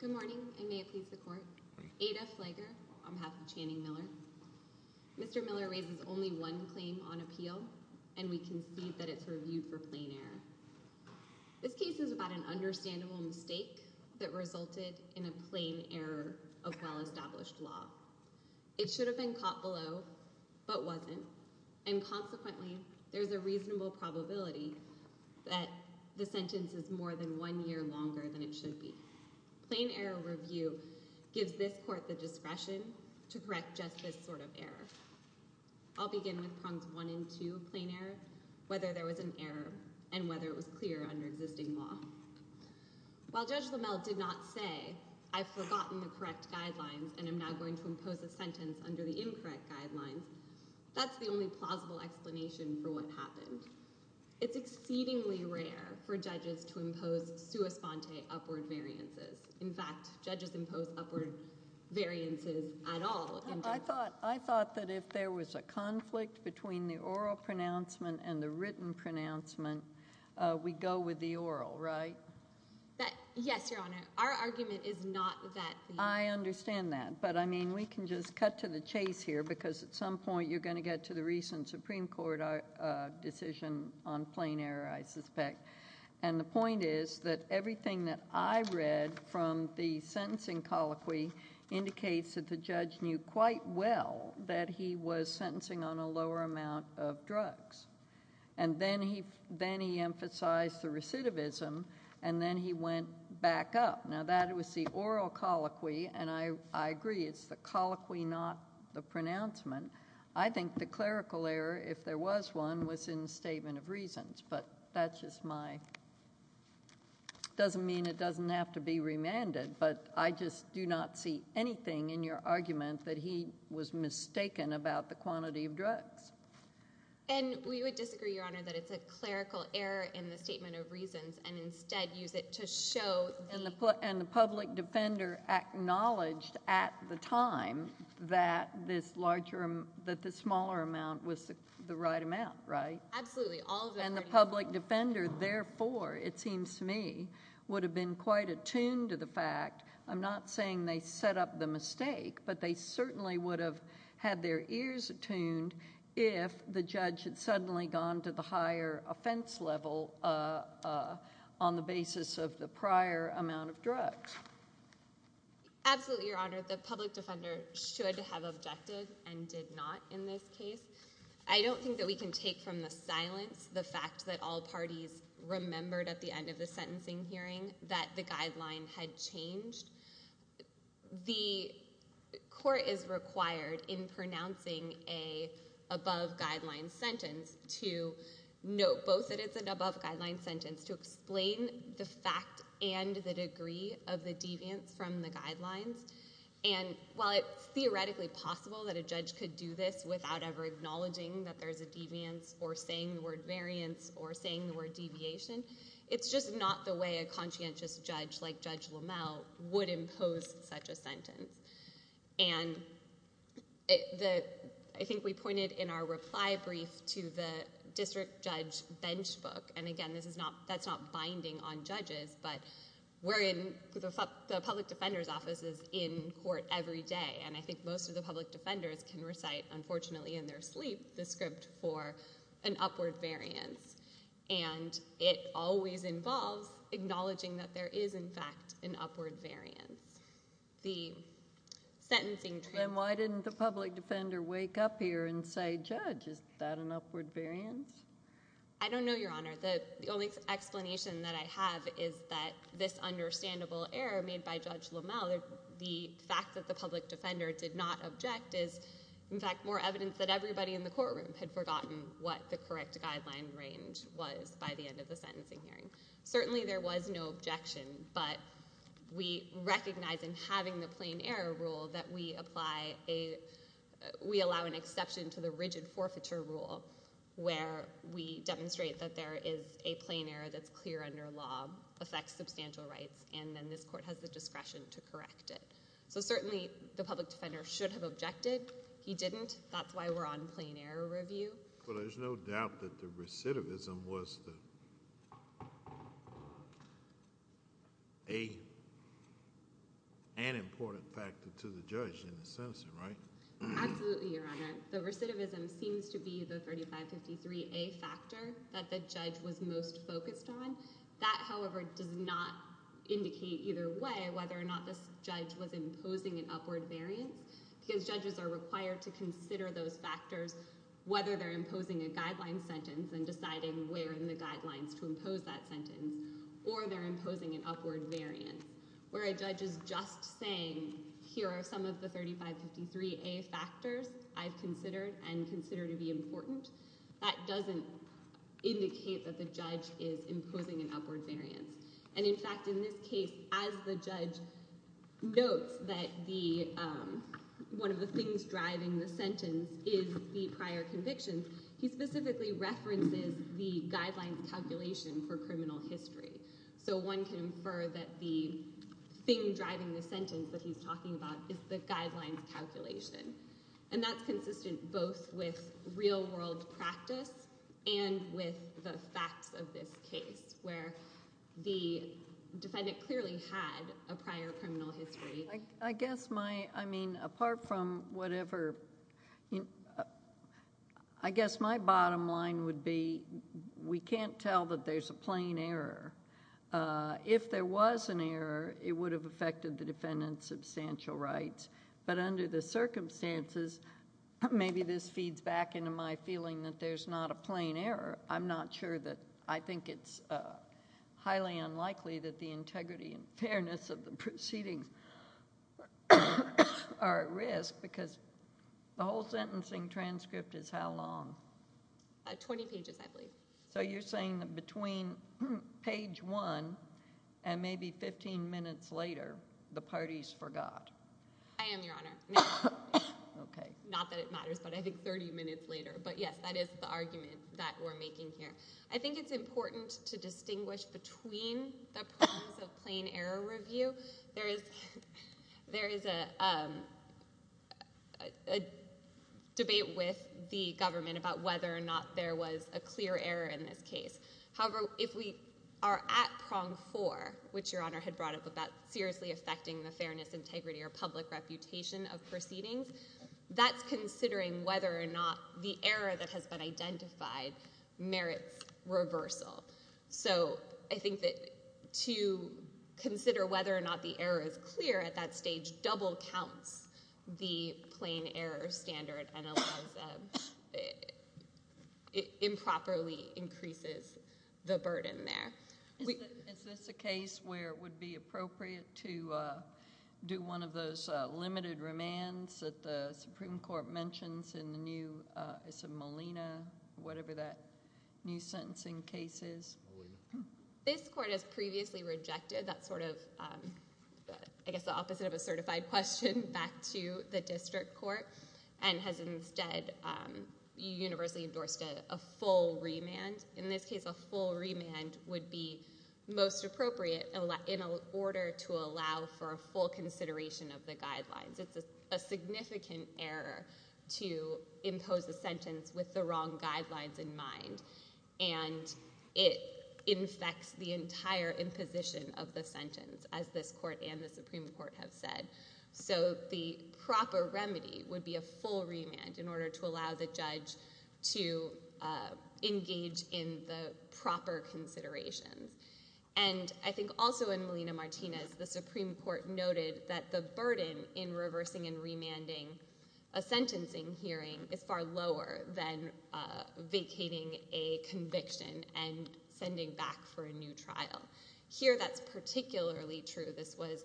Good morning I may it please the court. Ada Flager on behalf of Channing Miller. Mr. Miller raises only one claim on appeal and we concede that it's reviewed for plain error. This case is about an understandable mistake that resulted in a plain error of well-established law. It should have been caught below but wasn't and consequently there's a reasonable probability that the sentence is more than one year longer than it should be. Plain error review gives this court the discretion to correct just this sort of error. I'll begin with prongs one and two of plain error, whether there was an error and whether it was clear under existing law. While Judge Lamel did not say I've forgotten the correct guidelines and I'm now going to impose a sentence under the incorrect guidelines, that's the only plausible explanation for what happened. It's exceedingly rare for judges to impose sua sponte upward variances. In fact judges impose upward variances at all. I thought that if there was a conflict between the oral pronouncement and the written pronouncement we go with the oral, right? Yes, your honor. Our argument is not that. I understand that but I mean we can just cut to the chase here because at some point you're going to get to the recent Supreme Court decision on plain error I suspect. And the point is that everything that I read from the sentencing colloquy indicates that the judge knew quite well that he was sentencing on a lower amount of drugs. And then he emphasized the recidivism and then he went back up. Now that was the oral colloquy and I agree it's the colloquy not the pronouncement. I think the clerical error if there was one was in the statement of reasons but that's just my, doesn't mean it doesn't have to be remanded but I just do not see anything in your argument that he was mistaken about the quantity of drugs. And we would disagree, your honor, that it's a clerical error in the statement of reasons and instead use it to show the... And the public defender acknowledged at the time that this larger, that the smaller amount was the right amount, right? Absolutely. And the public defender therefore it seems to me would have been quite attuned to the mistake but they certainly would have had their ears attuned if the judge had suddenly gone to the higher offense level on the basis of the prior amount of drugs. Absolutely, your honor, the public defender should have objected and did not in this case. I don't think that we can take from the silence the fact that all parties remembered at the end of the sentencing hearing that the guideline had changed. The court is required in pronouncing a above guideline sentence to note both that it's an above guideline sentence to explain the fact and the degree of the deviance from the guidelines and while it's theoretically possible that a judge could do this without ever acknowledging that there's a deviance or saying the word variance or saying the word deviation, it's just not the way a conscientious judge like Judge Lomel would impose such a sentence. And I think we pointed in our reply brief to the district judge bench book and again this is not, that's not binding on judges but we're in the public defender's offices in court every day and I think most of the public defenders can recite unfortunately in their sleep the script for an upward variance and it always involves acknowledging that there is in fact an upward variance. The sentencing. And why didn't the public defender wake up here and say, Judge, is that an upward variance? I don't know, your honor. The only explanation that I have is that this understandable error made by Judge Lomel, the fact that the public defender did not object is in fact more evidence that everybody in the courtroom had forgotten what the correct guideline range was by the end of the sentencing hearing. Certainly there was no objection but we recognize in having the plain error rule that we apply a, we allow an exception to the rigid forfeiture rule where we demonstrate that there is a plain error that's clear under law, affects substantial rights and then this court has the discretion to correct it. So certainly the public defender should have objected, he didn't, that's why we're on plain error review. But there's no doubt that the recidivism was an important factor to the judge in the sentencing, right? Absolutely, your honor. The recidivism seems to be the 3553A factor that the judge was most focused on. That, however, does not indicate either way whether or not this judge was imposing an upward variance because judges are required to consider those factors whether they're imposing a guideline sentence and deciding where in the guidelines to impose that sentence or they're imposing an upward variance where a judge is just saying, here are some of the 3553A factors I've considered and consider to be important. That doesn't indicate that the judge is imposing an upward variance and in fact in this case as the judge notes that the, one of the things driving the sentence is the prior conviction, he specifically references the guidelines calculation for criminal history. So one can infer that the thing driving the sentence that he's talking about is the guidelines calculation. And that's consistent both with real world practice and with the facts of this case where the defendant clearly had a prior criminal history. I guess my, I mean apart from whatever, I guess my bottom line would be we can't tell that there's a plain error. If there was an error, it would have affected the defendant's substantial rights. But under the circumstances, maybe this feeds back into my feeling that there's not a plain error. I'm not sure that, I think it's highly unlikely that the integrity and fairness of the proceedings are at risk because the whole sentencing transcript is how long? 20 pages I believe. So you're saying that between page one and maybe 15 minutes later, the parties forgot. I am, Your Honor. Not that it matters, but I think 30 minutes later. But yes, that is the argument that we're making here. I think it's important to distinguish between the prongs of plain error review. There is a debate with the government about whether or not there was a clear error in this case. However, if we are at prong four, which Your Honor had brought up about seriously affecting the fairness, integrity, or public reputation of proceedings, that's considering whether or not the error that has been identified merits reversal. So I think that to consider whether or not the error is clear at that stage double counts the plain error standard and allows improperly increases the burden there. Is this a case where it would be appropriate to do one of those limited remands that the Supreme Court mentions in the new, is it Molina, whatever that new sentencing case is? This court has previously rejected that sort of, I guess the opposite of a certified question back to the district court and has instead universally endorsed a full remand. In this case, a full remand would be most appropriate in order to allow for a full consideration of the guidelines. It's a significant error to impose a sentence with the wrong guidelines in mind and it infects the entire imposition of the sentence, as this court and the Supreme Court have said. So the proper remedy would be a full remand in order to allow the judge to engage in the proper considerations. And I think also in Molina-Martinez, the Supreme Court noted that the burden in reversing and remanding a sentencing hearing is far lower than vacating a conviction and sending back for a new trial. Here, that's particularly true. This was,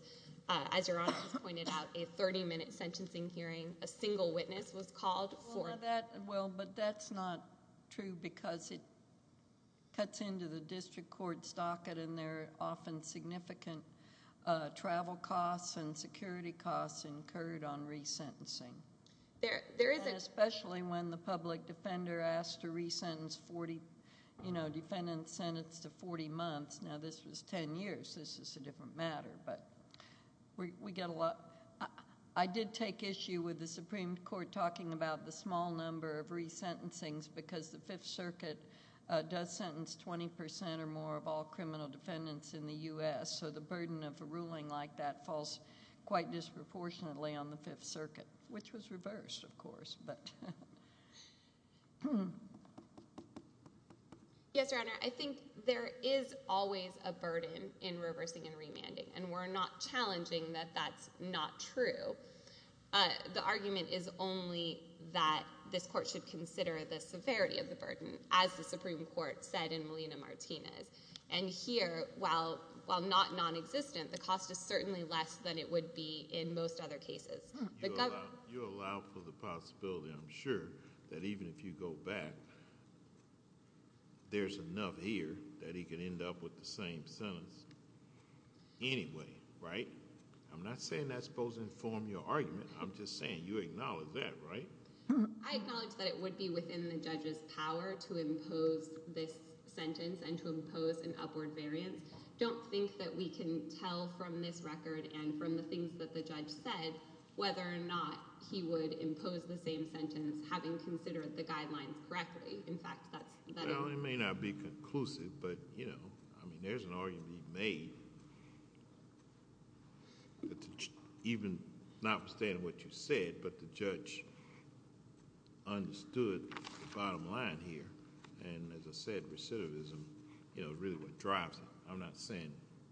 as Your Honor has pointed out, a 30-minute sentencing hearing. A single witness was called for that. Well, but that's not true because it cuts into the district court's docket and there are often significant travel costs and security costs incurred on resentencing, especially when the public defender asked to re-sentence 40, you know, defendant sentenced to 40 months. Now, this was 10 years. This is a different matter, but we get a lot. I did take issue with the Supreme Court talking about the small number of resentencings because the Fifth Circuit does sentence 20% or more of all criminal defendants in the U.S., so the burden of a ruling like that falls quite disproportionately on the Fifth Circuit, which was reversed, of course, but. Yes, Your Honor, I think there is always a burden in reversing and remanding, and we're not challenging that that's not true. The argument is only that this court should consider the severity of the burden, as the Supreme Court said in Molina-Martinez, and here, while not non-existent, the cost is certainly less than it would be in most other cases. You allow for the possibility, I'm sure, that even if you go back, there's enough here that he could end up with the same sentence anyway, right? I'm not saying that's supposed to inform your argument. I'm just saying you acknowledge that, right? I acknowledge that it would be within the judge's power to impose this sentence and to impose an upward variance. I just don't think that we can tell from this record and from the things that the judge said whether or not he would impose the same sentence having considered the guidelines correctly. In fact, that's... Well, it may not be conclusive, but there's an argument you've made, even notwithstanding what you said, but the judge understood the bottom line here, and as I said, recidivism is really what drives it. I'm not saying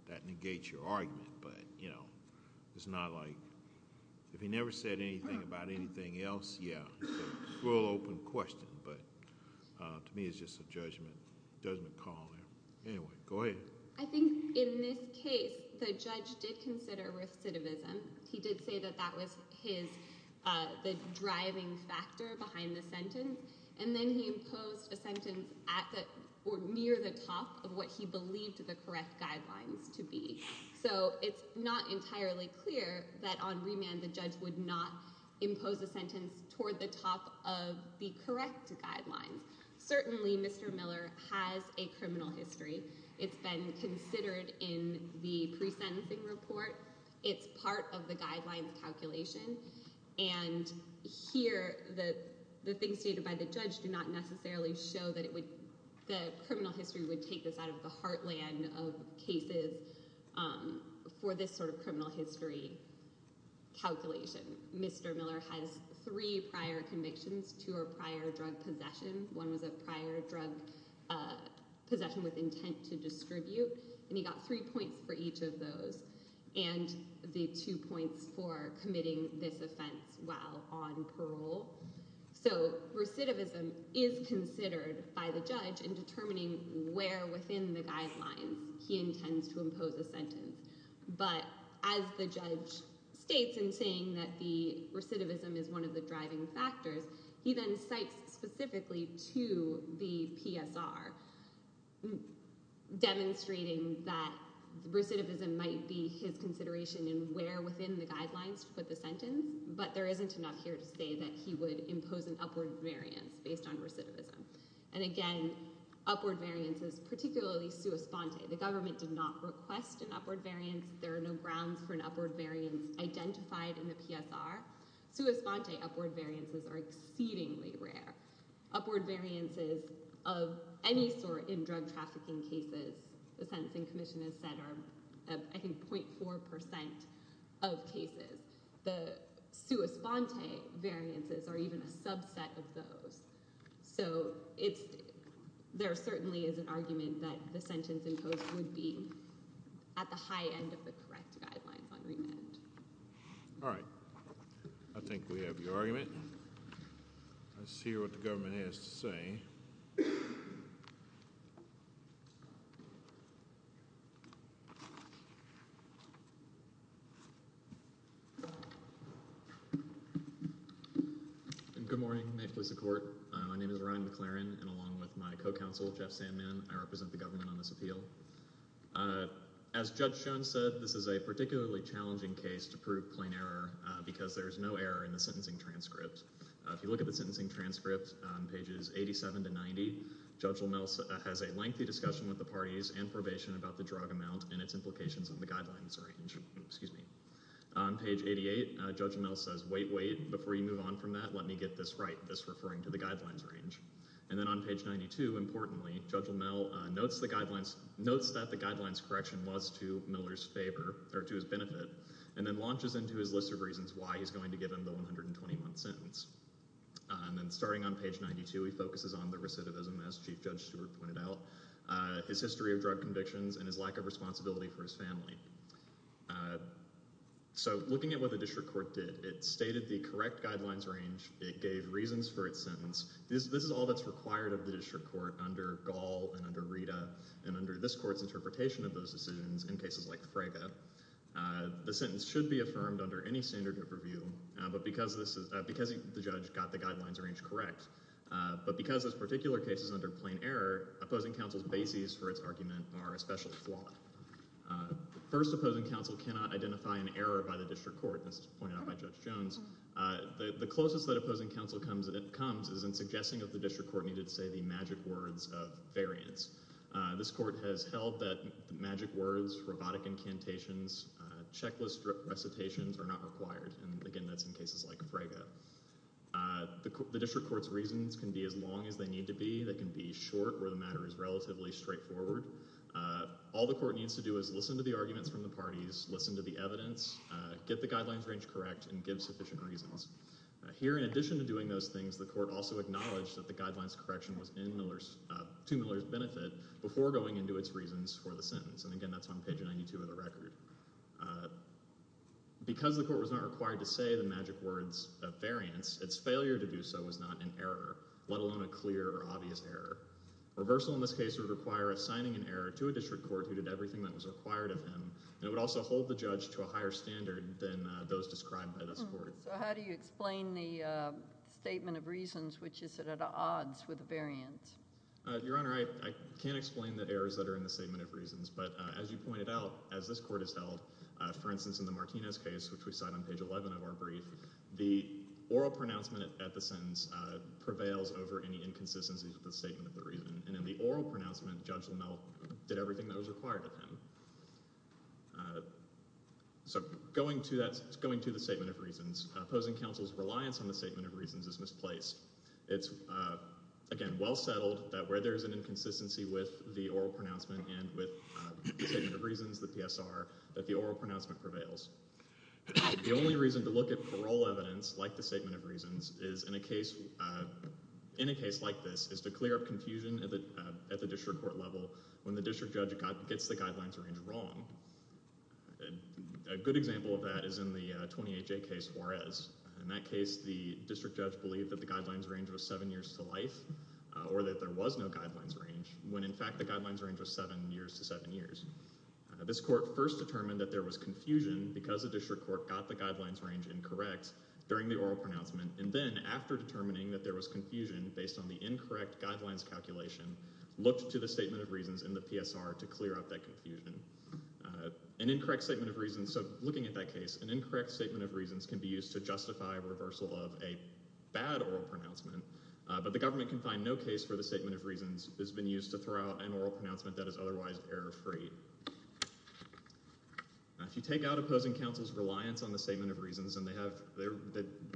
that negates your argument, but it's not like... If he never said anything about anything else, yeah, it's a full open question, but to me it's just a judgment call there. Anyway, go ahead. I think in this case, the judge did consider recidivism. He did say that that was the driving factor behind the sentence, and then he imposed a sentence toward the top of what he believed the correct guidelines to be, so it's not entirely clear that on remand the judge would not impose a sentence toward the top of the correct guidelines. Certainly, Mr. Miller has a criminal history. It's been considered in the pre-sentencing report. It's part of the guidelines calculation, and here the things stated by the judge do not necessarily show that the criminal history would take this out of the heartland of cases for this sort of criminal history calculation. Mr. Miller has three prior convictions, two are prior drug possession. One was a prior drug possession with intent to distribute, and he got three points for each of those, and the two points for committing this offense while on parole. So recidivism is considered by the judge in determining where within the guidelines he intends to impose a sentence, but as the judge states in saying that the recidivism is one of the driving factors, he then cites specifically to the PSR, demonstrating that recidivism might be his consideration in where within the guidelines to put the sentence, but there he would impose an upward variance based on recidivism. And again, upward variances, particularly sua sponte. The government did not request an upward variance. There are no grounds for an upward variance identified in the PSR. Sua sponte upward variances are exceedingly rare. Upward variances of any sort in drug trafficking cases, the sentencing commission has said, are I think 0.4% of cases. The sua sponte variances are even a subset of those. So there certainly is an argument that the sentence imposed would be at the high end of the correct guidelines on remand. All right. I think we have your argument. Let's hear what the government has to say. Good morning. May it please the Court. My name is Ryan McLaren, and along with my co-counsel, Jeff Sandman, I represent the government on this appeal. As Judge Schoen said, this is a particularly challenging case to prove plain error because there is no error in the sentencing transcript. If you look at the sentencing transcript on pages 87 to 90, Judge Lomel has a lengthy discussion with the parties and probation about the drug amount and its implications on the guidelines. On page 88, Judge Lomel says, wait, wait, before you move on from that, let me get this right, this referring to the guidelines range. And then on page 92, importantly, Judge Lomel notes that the guidelines correction was to Miller's favor, or to his benefit, and then launches into his list of reasons why he's going to give him the 120-month sentence. And then starting on page 92, he focuses on the recidivism, as Chief Judge Stewart pointed out, his history of drug convictions, and his lack of responsibility for his family. So, looking at what the district court did, it stated the correct guidelines range, it gave reasons for its sentence. This is all that's required of the district court under Gall and under Rita, and under this court's interpretation of those decisions in cases like Fraga. The sentence should be affirmed under any standard of review because the judge got the guidelines range correct. But because this particular case is under plain error, opposing counsel's bases for its argument are especially flawed. First, opposing counsel cannot identify an error by the district court. This is pointed out by Judge Jones. The closest that opposing counsel comes is in suggesting that the district court needed to say the magic words of variance. This court has held that magic words, robotic incantations, checklist recitations are not required, and again, that's in cases like Fraga. The district court's reasons can be as long as they need to be. They can be short where the matter is relatively straightforward. All the court needs to do is listen to the arguments from the parties, listen to the evidence, get the guidelines range correct, and give sufficient reasons. Here, in addition to doing those things, the court also acknowledged that the guidelines correction was to Miller's benefit before going into its reasons for the sentence. And again, that's on page 92 of the record. Because the court was not required to say the magic words of variance, its failure to do so was not an error, let alone a clear or obvious error. Reversal in this case would require assigning an error to a district court who did everything that was required of him, and it would also hold the judge to a higher standard than those described by this court. So how do you explain the statement of reasons, which is at odds with the variance? Your Honor, I can't explain the errors that are in the statement of reasons, but as you know, that's how the case was held. For instance, in the Martinez case, which we cite on page 11 of our brief, the oral pronouncement at the sentence prevails over any inconsistencies with the statement of the reason. And in the oral pronouncement, Judge Lamel did everything that was required of him. So going to the statement of reasons, opposing counsel's reliance on the statement of reasons is misplaced. It's, again, well settled that where there's an inconsistency with the oral pronouncement and with the statement of reasons, the PSR, that the oral pronouncement prevails. The only reason to look at parole evidence, like the statement of reasons, in a case like this is to clear up confusion at the district court level when the district judge gets the guidelines range wrong. A good example of that is in the 28J case, Juarez. In that case, the district judge believed that the guidelines range was seven years to life, or that there was no guidelines range, when in fact the guidelines range was seven years to seven years. This court first determined that there was confusion because the district court got the guidelines range incorrect during the oral pronouncement, and then after determining that there was confusion based on the incorrect guidelines calculation, looked to the statement of reasons in the PSR to clear up that confusion. An incorrect statement of reasons, so looking at that case, an incorrect statement of reasons can be used to justify reversal of a bad oral pronouncement, but the government can find no case where the statement of reasons has been used to throw out an oral pronouncement that is otherwise error-free. If you take out opposing counsel's reliance on the statement of reasons, then they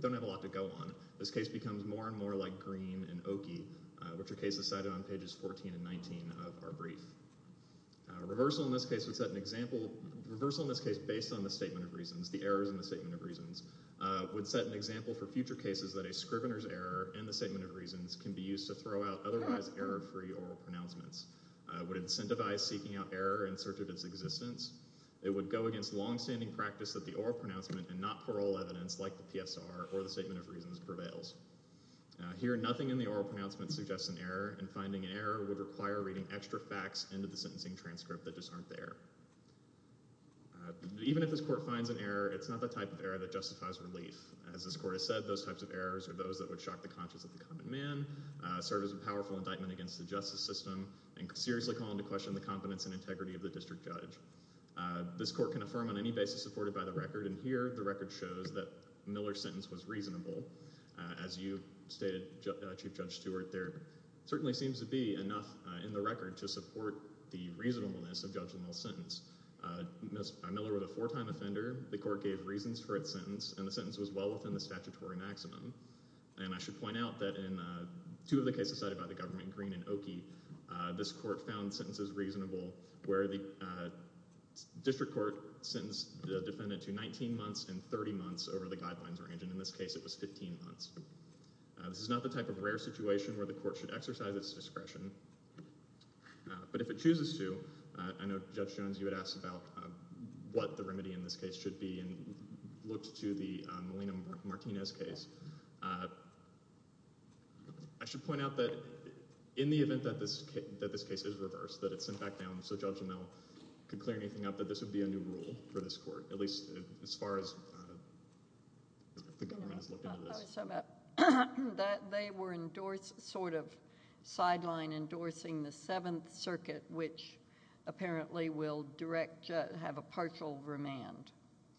don't have a lot to go on. This case becomes more and more like Green and Oki, which are cases cited on pages 14 and 19 of our brief. Reversal in this case would set an example, reversal in this case based on the statement of reasons, would set an example for future cases that a scrivener's error in the statement of reasons can be used to throw out otherwise error-free oral pronouncements, would incentivize seeking out error in search of its existence. It would go against longstanding practice that the oral pronouncement and not-for-all evidence like the PSR or the statement of reasons prevails. Here, nothing in the oral pronouncement suggests an error, and finding an error would require reading extra facts into the sentencing transcript that just aren't there. Even if this court finds an error, it's not the type of error that justifies relief. As this court has said, those types of errors are those that would shock the conscience of the common man, serve as a powerful indictment against the justice system, and seriously call into question the competence and integrity of the district judge. This court can affirm on any basis supported by the record, and here the record shows that Miller's sentence was reasonable. As you stated, Chief Judge Stewart, there certainly seems to be enough in the record to support the reasonableness of Judge Lamel's sentence. Miller was a four-time offender. The court gave reasons for its sentence, and the sentence was well within the statutory maximum. And I should point out that in two of the cases cited by the government, Green and Oki, this court found sentences reasonable where the district court sentenced the defendant to 19 months and 30 months over the guidelines range, and in this case it was 15 months. This is not the type of rare situation where the court should exercise its discretion, but if it chooses to, I know Judge Jones, you had asked about what the remedy in this case should be and looked to the Melina Martinez case. I should point out that in the event that this case is reversed, that it's sent back down so Judge Lamel could clear anything up, that this would be a new rule for this court, at least as far as the government has looked into this. They were endorsed, sort of sidelined, endorsing the Seventh Circuit, which apparently will have a partial remand,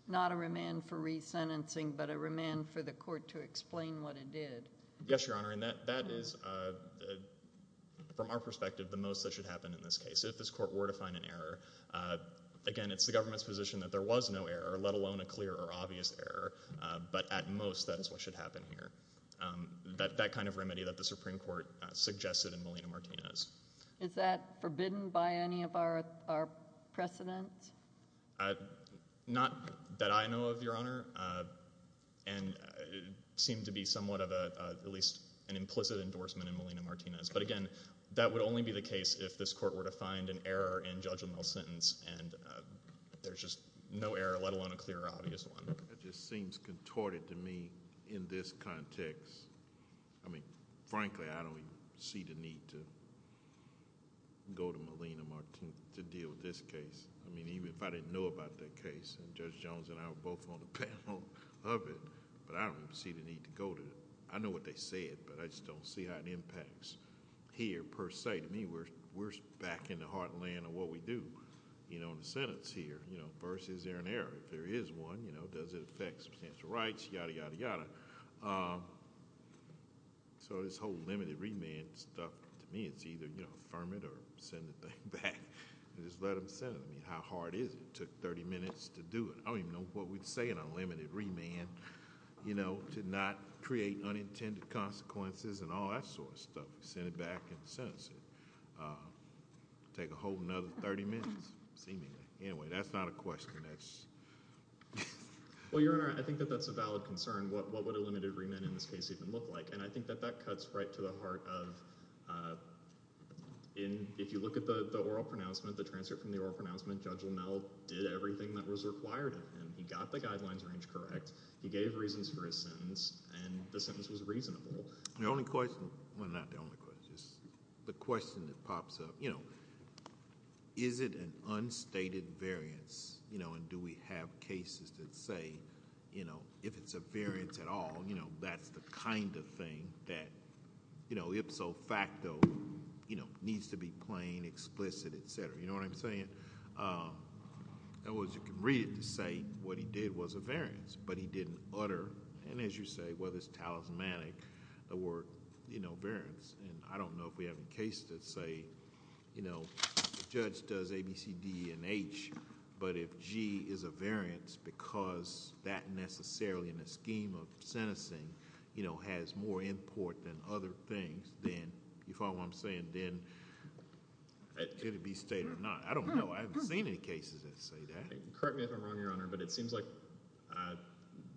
not a remand for resentencing, but a remand for the court to explain what it did. Yes, Your Honor, and that is, from our perspective, the most that should happen in this case. If this court were to find an error, again, it's the government's position that there was no error, let alone a clear or obvious error, but at most that is what should happen here. That kind of remedy that the Supreme Court suggested in Melina Martinez. Is that forbidden by any of our precedent? Not that I know of, Your Honor, and it seemed to be somewhat of at least an implicit endorsement in Melina Martinez, but again, that would only be the case if this court were to find an error in Judge Lamel's sentence, and there's just no error, let alone a clear or obvious one. It just seems contorted to me in this context. I mean, frankly, I don't see the need to go to Melina Martinez to deal with this case. I mean, even if I didn't know about that case, and Judge Jones and I were both on the panel of it, but I don't see the need to go to it. I know what they said, but I just don't see how it impacts here per se. To me, we're back in the heartland of what we do in the sentence here. First, is there an error? If there is one, does it affect substantial rights? Yada, yada, yada. So this whole limited remand stuff, to me, it's either affirm it or send the thing back. Just let them send it. I mean, how hard is it? It took 30 minutes to do it. I don't even know what we'd say in a limited remand, you know, to not create unintended consequences and all that sort of stuff. Send it back and sentence it. Take a whole nother 30 minutes, seemingly. Anyway, that's not a question. Well, Your Honor, I think that that's a valid concern. What would a limited remand in this case even look like? And I think that that cuts right to the heart of if you look at the oral pronouncement, Judge Linnell did everything that was required of him. He got the guidelines range correct. He gave reasons for his sentence, and the sentence was reasonable. The only question... well, not the only question. The question that pops up, you know, is it an unstated variance, you know, and do we have cases that say, you know, if it's a variance at all, you know, that's the kind of thing that, you know, ipso facto, you know, needs to be plain, explicit, et cetera, you know what I'm saying? In other words, you can read it to say what he did was a variance, but he didn't utter, and as you say, whether it's talismanic, the word, you know, variance. And I don't know if we have any cases that say, you know, the judge does A, B, C, D, and H, but if G is a variance because that necessarily in the scheme of sentencing, you know, has more import than other things, then you follow what I'm saying? Then could it be stated or not? I don't know. I haven't seen any cases that say that. Correct me if I'm wrong, Your Honor, but it seems like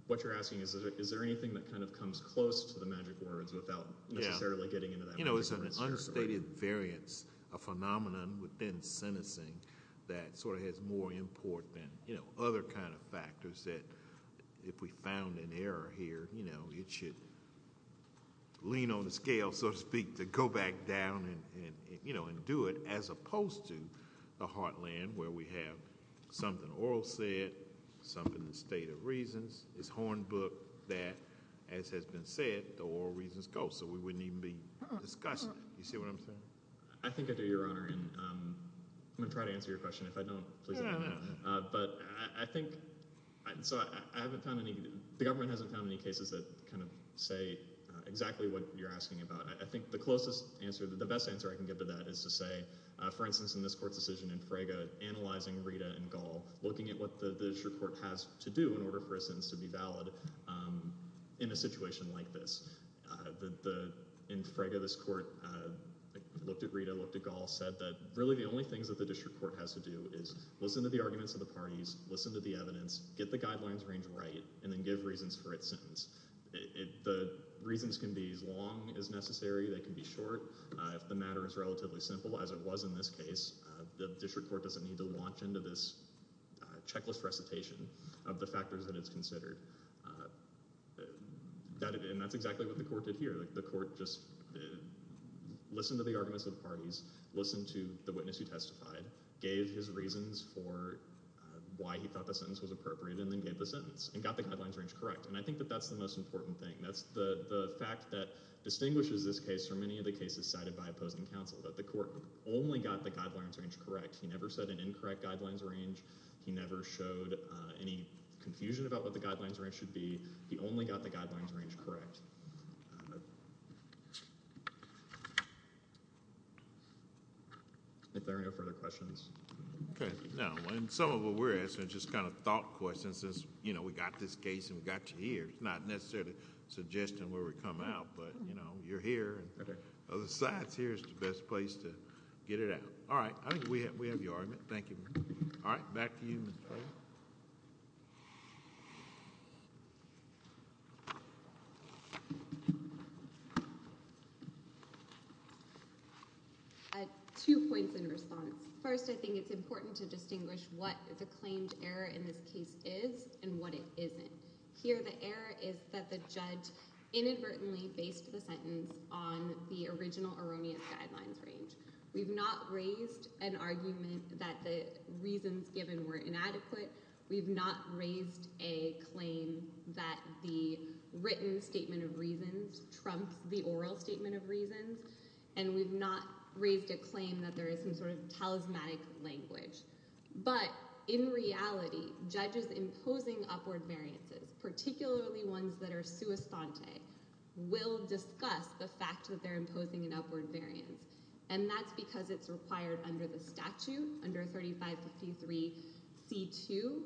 what you're asking is, is there anything that kind of comes close to the magic words without necessarily getting into that? You know, it's an unstated variance, a phenomenon within sentencing that sort of has more import than, you know, other kind of factors that if we found an error here, you know, it should lean on the scale, so to speak, to go back down and, you know, and do it as opposed to the heartland where we have something oral said, something in the state of reasons is hornbooked that, as has been said, the oral reasons go. So we wouldn't even be discussing it. You see what I'm saying? I think I do, Your Honor, and I'm going to try to answer your question. If I don't, please let me know. But I think so I haven't found any. The government hasn't found any cases that kind of say exactly what you're asking about. I think the closest answer, the best answer I can give to that is to say, for instance, in this court's decision in Frege, analyzing Rita and Gall, looking at what the district court has to do in order for a sentence to be valid in a situation like this. In Frege, this court looked at Rita, looked at Gall, said that really the only things that the district court has to do is listen to the arguments of the parties, listen to the evidence, get the guidelines range right, and then give reasons for its sentence. The reasons can be as long as necessary. They can be short. If the matter is relatively simple, as it was in this case, the district court doesn't need to launch into this checklist recitation of the factors that it's considered. And that's exactly what the court did here. The court just listened to the arguments of the parties, listened to the witness who testified, gave his reasons for why he thought the sentence was appropriate, and then gave the sentence, and got the guidelines range correct. And I think that that's the most important thing. That's the fact that distinguishes this case from many of the cases cited by opposing counsel, that the court only got the guidelines range correct. He never said an incorrect guidelines range. He never showed any confusion about what the guidelines range should be. He only got the guidelines range correct. If there are no further questions. Okay. No. And some of what we're asking is just kind of thought questions, since, you know, we got this case and we got you here. It's not necessarily suggesting where we come out, but, you know, you're here. Okay. Other sides here is the best place to get it out. All right. I think we have your argument. Thank you. All right. Back to you, Mr. O. I have two points in response. First, I think it's important to distinguish what the claimed error in this case is and what it isn't. Here the error is that the judge inadvertently based the sentence on the original erroneous guidelines range. We've not raised an argument that the reasons given were inadequate. We've not raised a claim that the written statement of reasons trumped the oral statement of reasons. And we've not raised a claim that there is some sort of talismanic language. But in reality, judges imposing upward variances, particularly ones that are sui sante, will discuss the fact that they're imposing an upward variance. And that's because it's required under the statute, under 3553C2,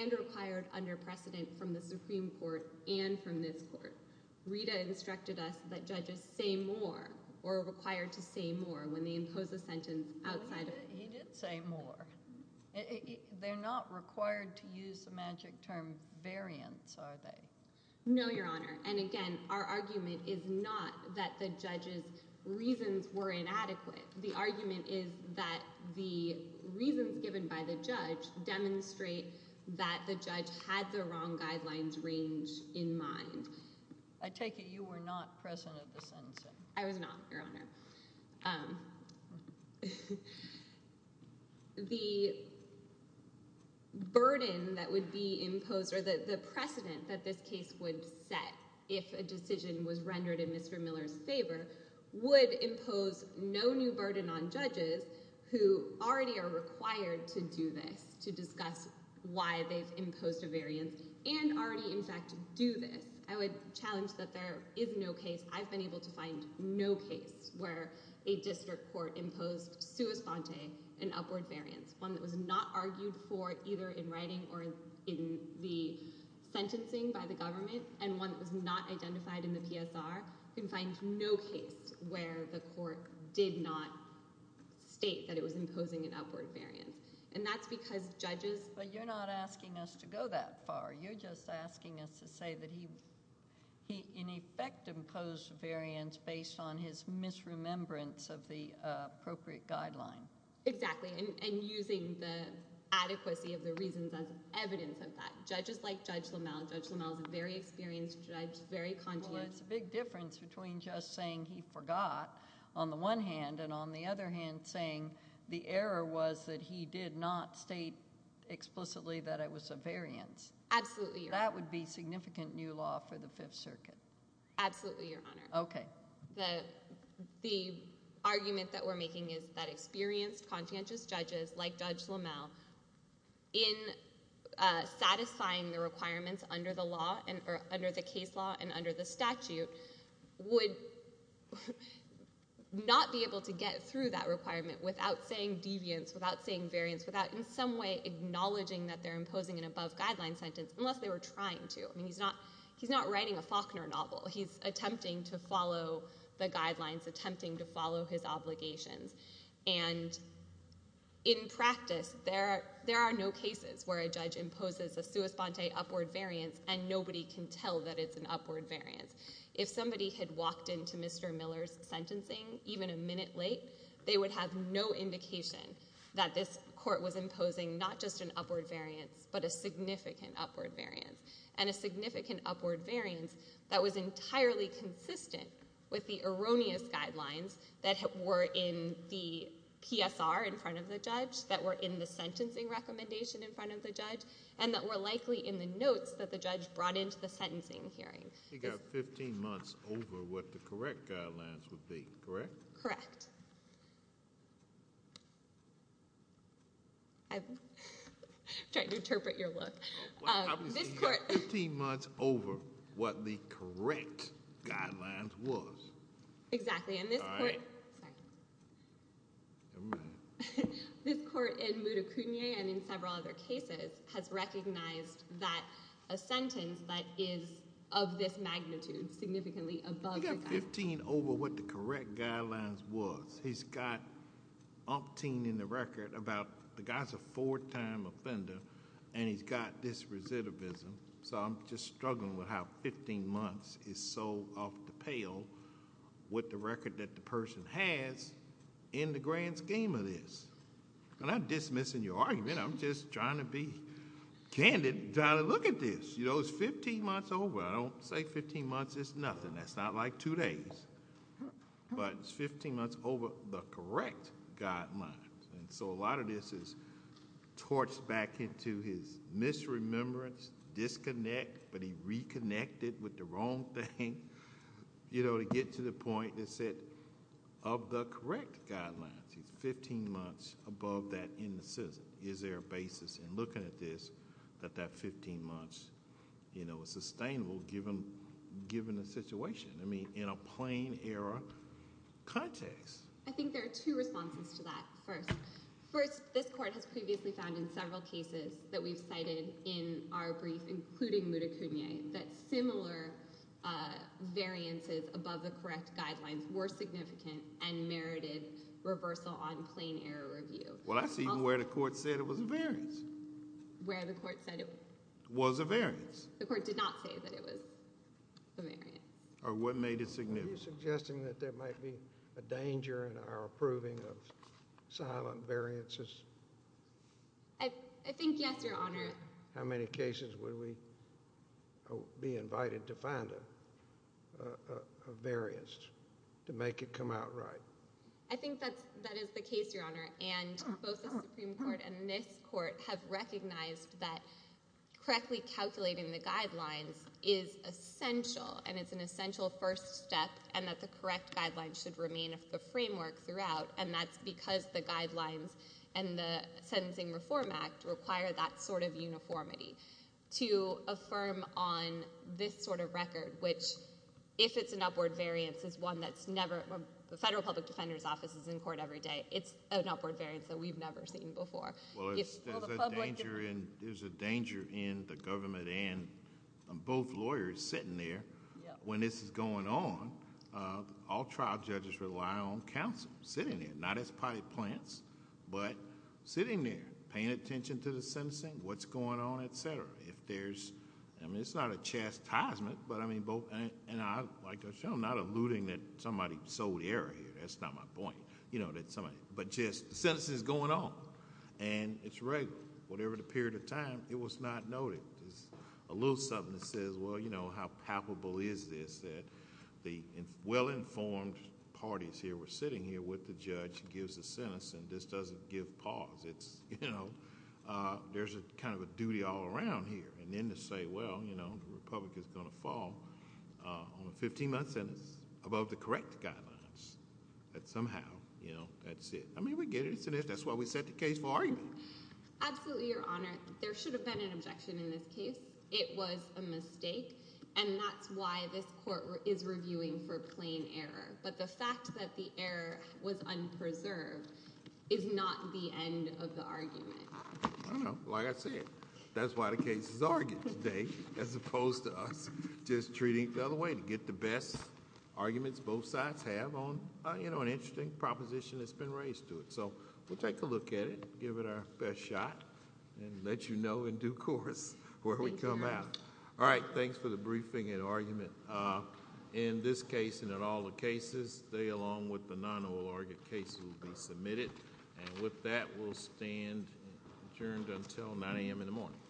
and required under precedent from the Supreme Court and from this court. Rita instructed us that judges say more or are required to say more when they impose a sentence outside of... He did say more. They're not required to use the magic term variance, are they? No, Your Honor. And, again, our argument is not that the judge's reasons were inadequate. The argument is that the reasons given by the judge demonstrate that the judge had the wrong guidelines range in mind. I take it you were not present at the sentencing. I was not, Your Honor. The burden that would be imposed or the precedent that this case would set if a decision was rendered in Mr. Miller's favor would impose no new burden on judges who already are required to do this, to discuss why they've imposed a variance and already, in fact, do this. I would challenge that there is no case. I've been able to find no case where a district court imposed sua sponte, an upward variance, one that was not argued for either in writing or in the sentencing by the government and one that was not identified in the PSR. You can find no case where the court did not state that it was imposing an upward variance. And that's because judges... But you're not asking us to go that far. You're just asking us to say that he, in effect, imposed a variance based on his misremembrance of the appropriate guideline. Exactly, and using the adequacy of the reasons as evidence of that. Judges like Judge LaMalle. Judge LaMalle is a very experienced judge, very conscientious. Well, it's a big difference between just saying he forgot, on the one hand, and on the other hand saying the error was that he did not state explicitly that it was a variance. Absolutely, Your Honor. That would be significant new law for the Fifth Circuit. Absolutely, Your Honor. Okay. The argument that we're making is that experienced, conscientious judges like Judge LaMalle, in satisfying the requirements under the case law and under the statute, would not be able to get through that requirement without saying deviance, without saying variance, without in some way acknowledging that they're imposing an above-guideline sentence unless they were trying to. I mean, he's not writing a Faulkner novel. He's attempting to follow the guidelines, attempting to follow his obligations. And in practice, there are no cases where a judge imposes a sua sponte, upward variance, and nobody can tell that it's an upward variance. If somebody had walked into Mr. Miller's sentencing even a minute late, they would have no indication that this court was imposing not just an upward variance, but a significant upward variance, and a significant upward variance that was entirely consistent with the erroneous guidelines that were in the PSR in front of the judge, that were in the sentencing recommendation in front of the judge, and that were likely in the notes that the judge brought into the sentencing hearing. He got 15 months over what the correct guidelines would be, correct? Correct. I'm trying to interpret your look. He got 15 months over what the correct guidelines was. Exactly. Sorry. Never mind. This court in Moudikounian, and in several other cases, has recognized that a sentence that is of this magnitude significantly above the guidelines. He got 15 over what the correct guidelines was. He's got umpteen in the record about the guy's a four-time offender, and he's got this recidivism. I'm just struggling with how 15 months is so off the pale with the record that the person has in the grand scheme of this. I'm not dismissing your argument. I'm just trying to be candid, trying to look at this. It's 15 months over. I don't say 15 months is nothing. That's not like two days, but it's 15 months over the correct guidelines. A lot of this is torched back into his misremembrance, disconnect, but he reconnected with the wrong thing. To get to the point that said, of the correct guidelines, he's 15 months above that indecision. Is there a basis in looking at this that that 15 months is sustainable given the situation? In a plain error context. I think there are two responses to that first. First, this court has previously found in several cases that we've cited in our brief, including Muda Kunye, that similar variances above the correct guidelines were significant and merited reversal on plain error review. Well, that's even where the court said it was a variance. Where the court said it was. Was a variance. The court did not say that it was a variance. Or what made it significant. Are you suggesting that there might be a danger in our approving of silent variances? I think yes, Your Honor. How many cases would we be invited to find a variance to make it come out right? I think that is the case, Your Honor. And both the Supreme Court and this court have recognized that correctly calculating the guidelines is essential. And it's an essential first step. And that the correct guidelines should remain a framework throughout. And that's because the guidelines and the Sentencing Reform Act require that sort of uniformity. To affirm on this sort of record, which if it's an upward variance is one that's never, the Federal Public Defender's Office is in court every day. It's an upward variance that we've never seen before. There's a danger in the government and both lawyers sitting there. When this is going on, all trial judges rely on counsel sitting there. Not as potty plants, but sitting there. Paying attention to the sentencing. What's going on, etc. If there's, I mean it's not a chastisement, but I mean both, and I'm not alluding that somebody sold air here. That's not my point. But just, the sentencing is going on. And it's regular. Whatever the period of time, it was not noted. It's a little something that says, well, you know, how palpable is this? That the well-informed parties here were sitting here with the judge. He gives the sentencing. This doesn't give pause. It's, you know, there's kind of a duty all around here. And then to say, well, you know, the Republic is going to fall on a 15-month sentence. Above the correct guidelines. That somehow, you know, that's it. I mean, we get it. That's why we set the case for argument. Absolutely, Your Honor. There should have been an objection in this case. It was a mistake. And that's why this court is reviewing for plain error. But the fact that the error was unpreserved is not the end of the argument. I know. Like I said, that's why the case is argued today. As opposed to us just treating it the other way. To get the best arguments both sides have on, you know, an interesting proposition that's been raised to it. So we'll take a look at it. Give it our best shot. And let you know in due course where we come out. All right. Thanks for the briefing and argument. In this case and in all the cases, they, along with the non-oral argued cases, will be submitted. And with that, we'll stand adjourned until 9 a.m. in the morning.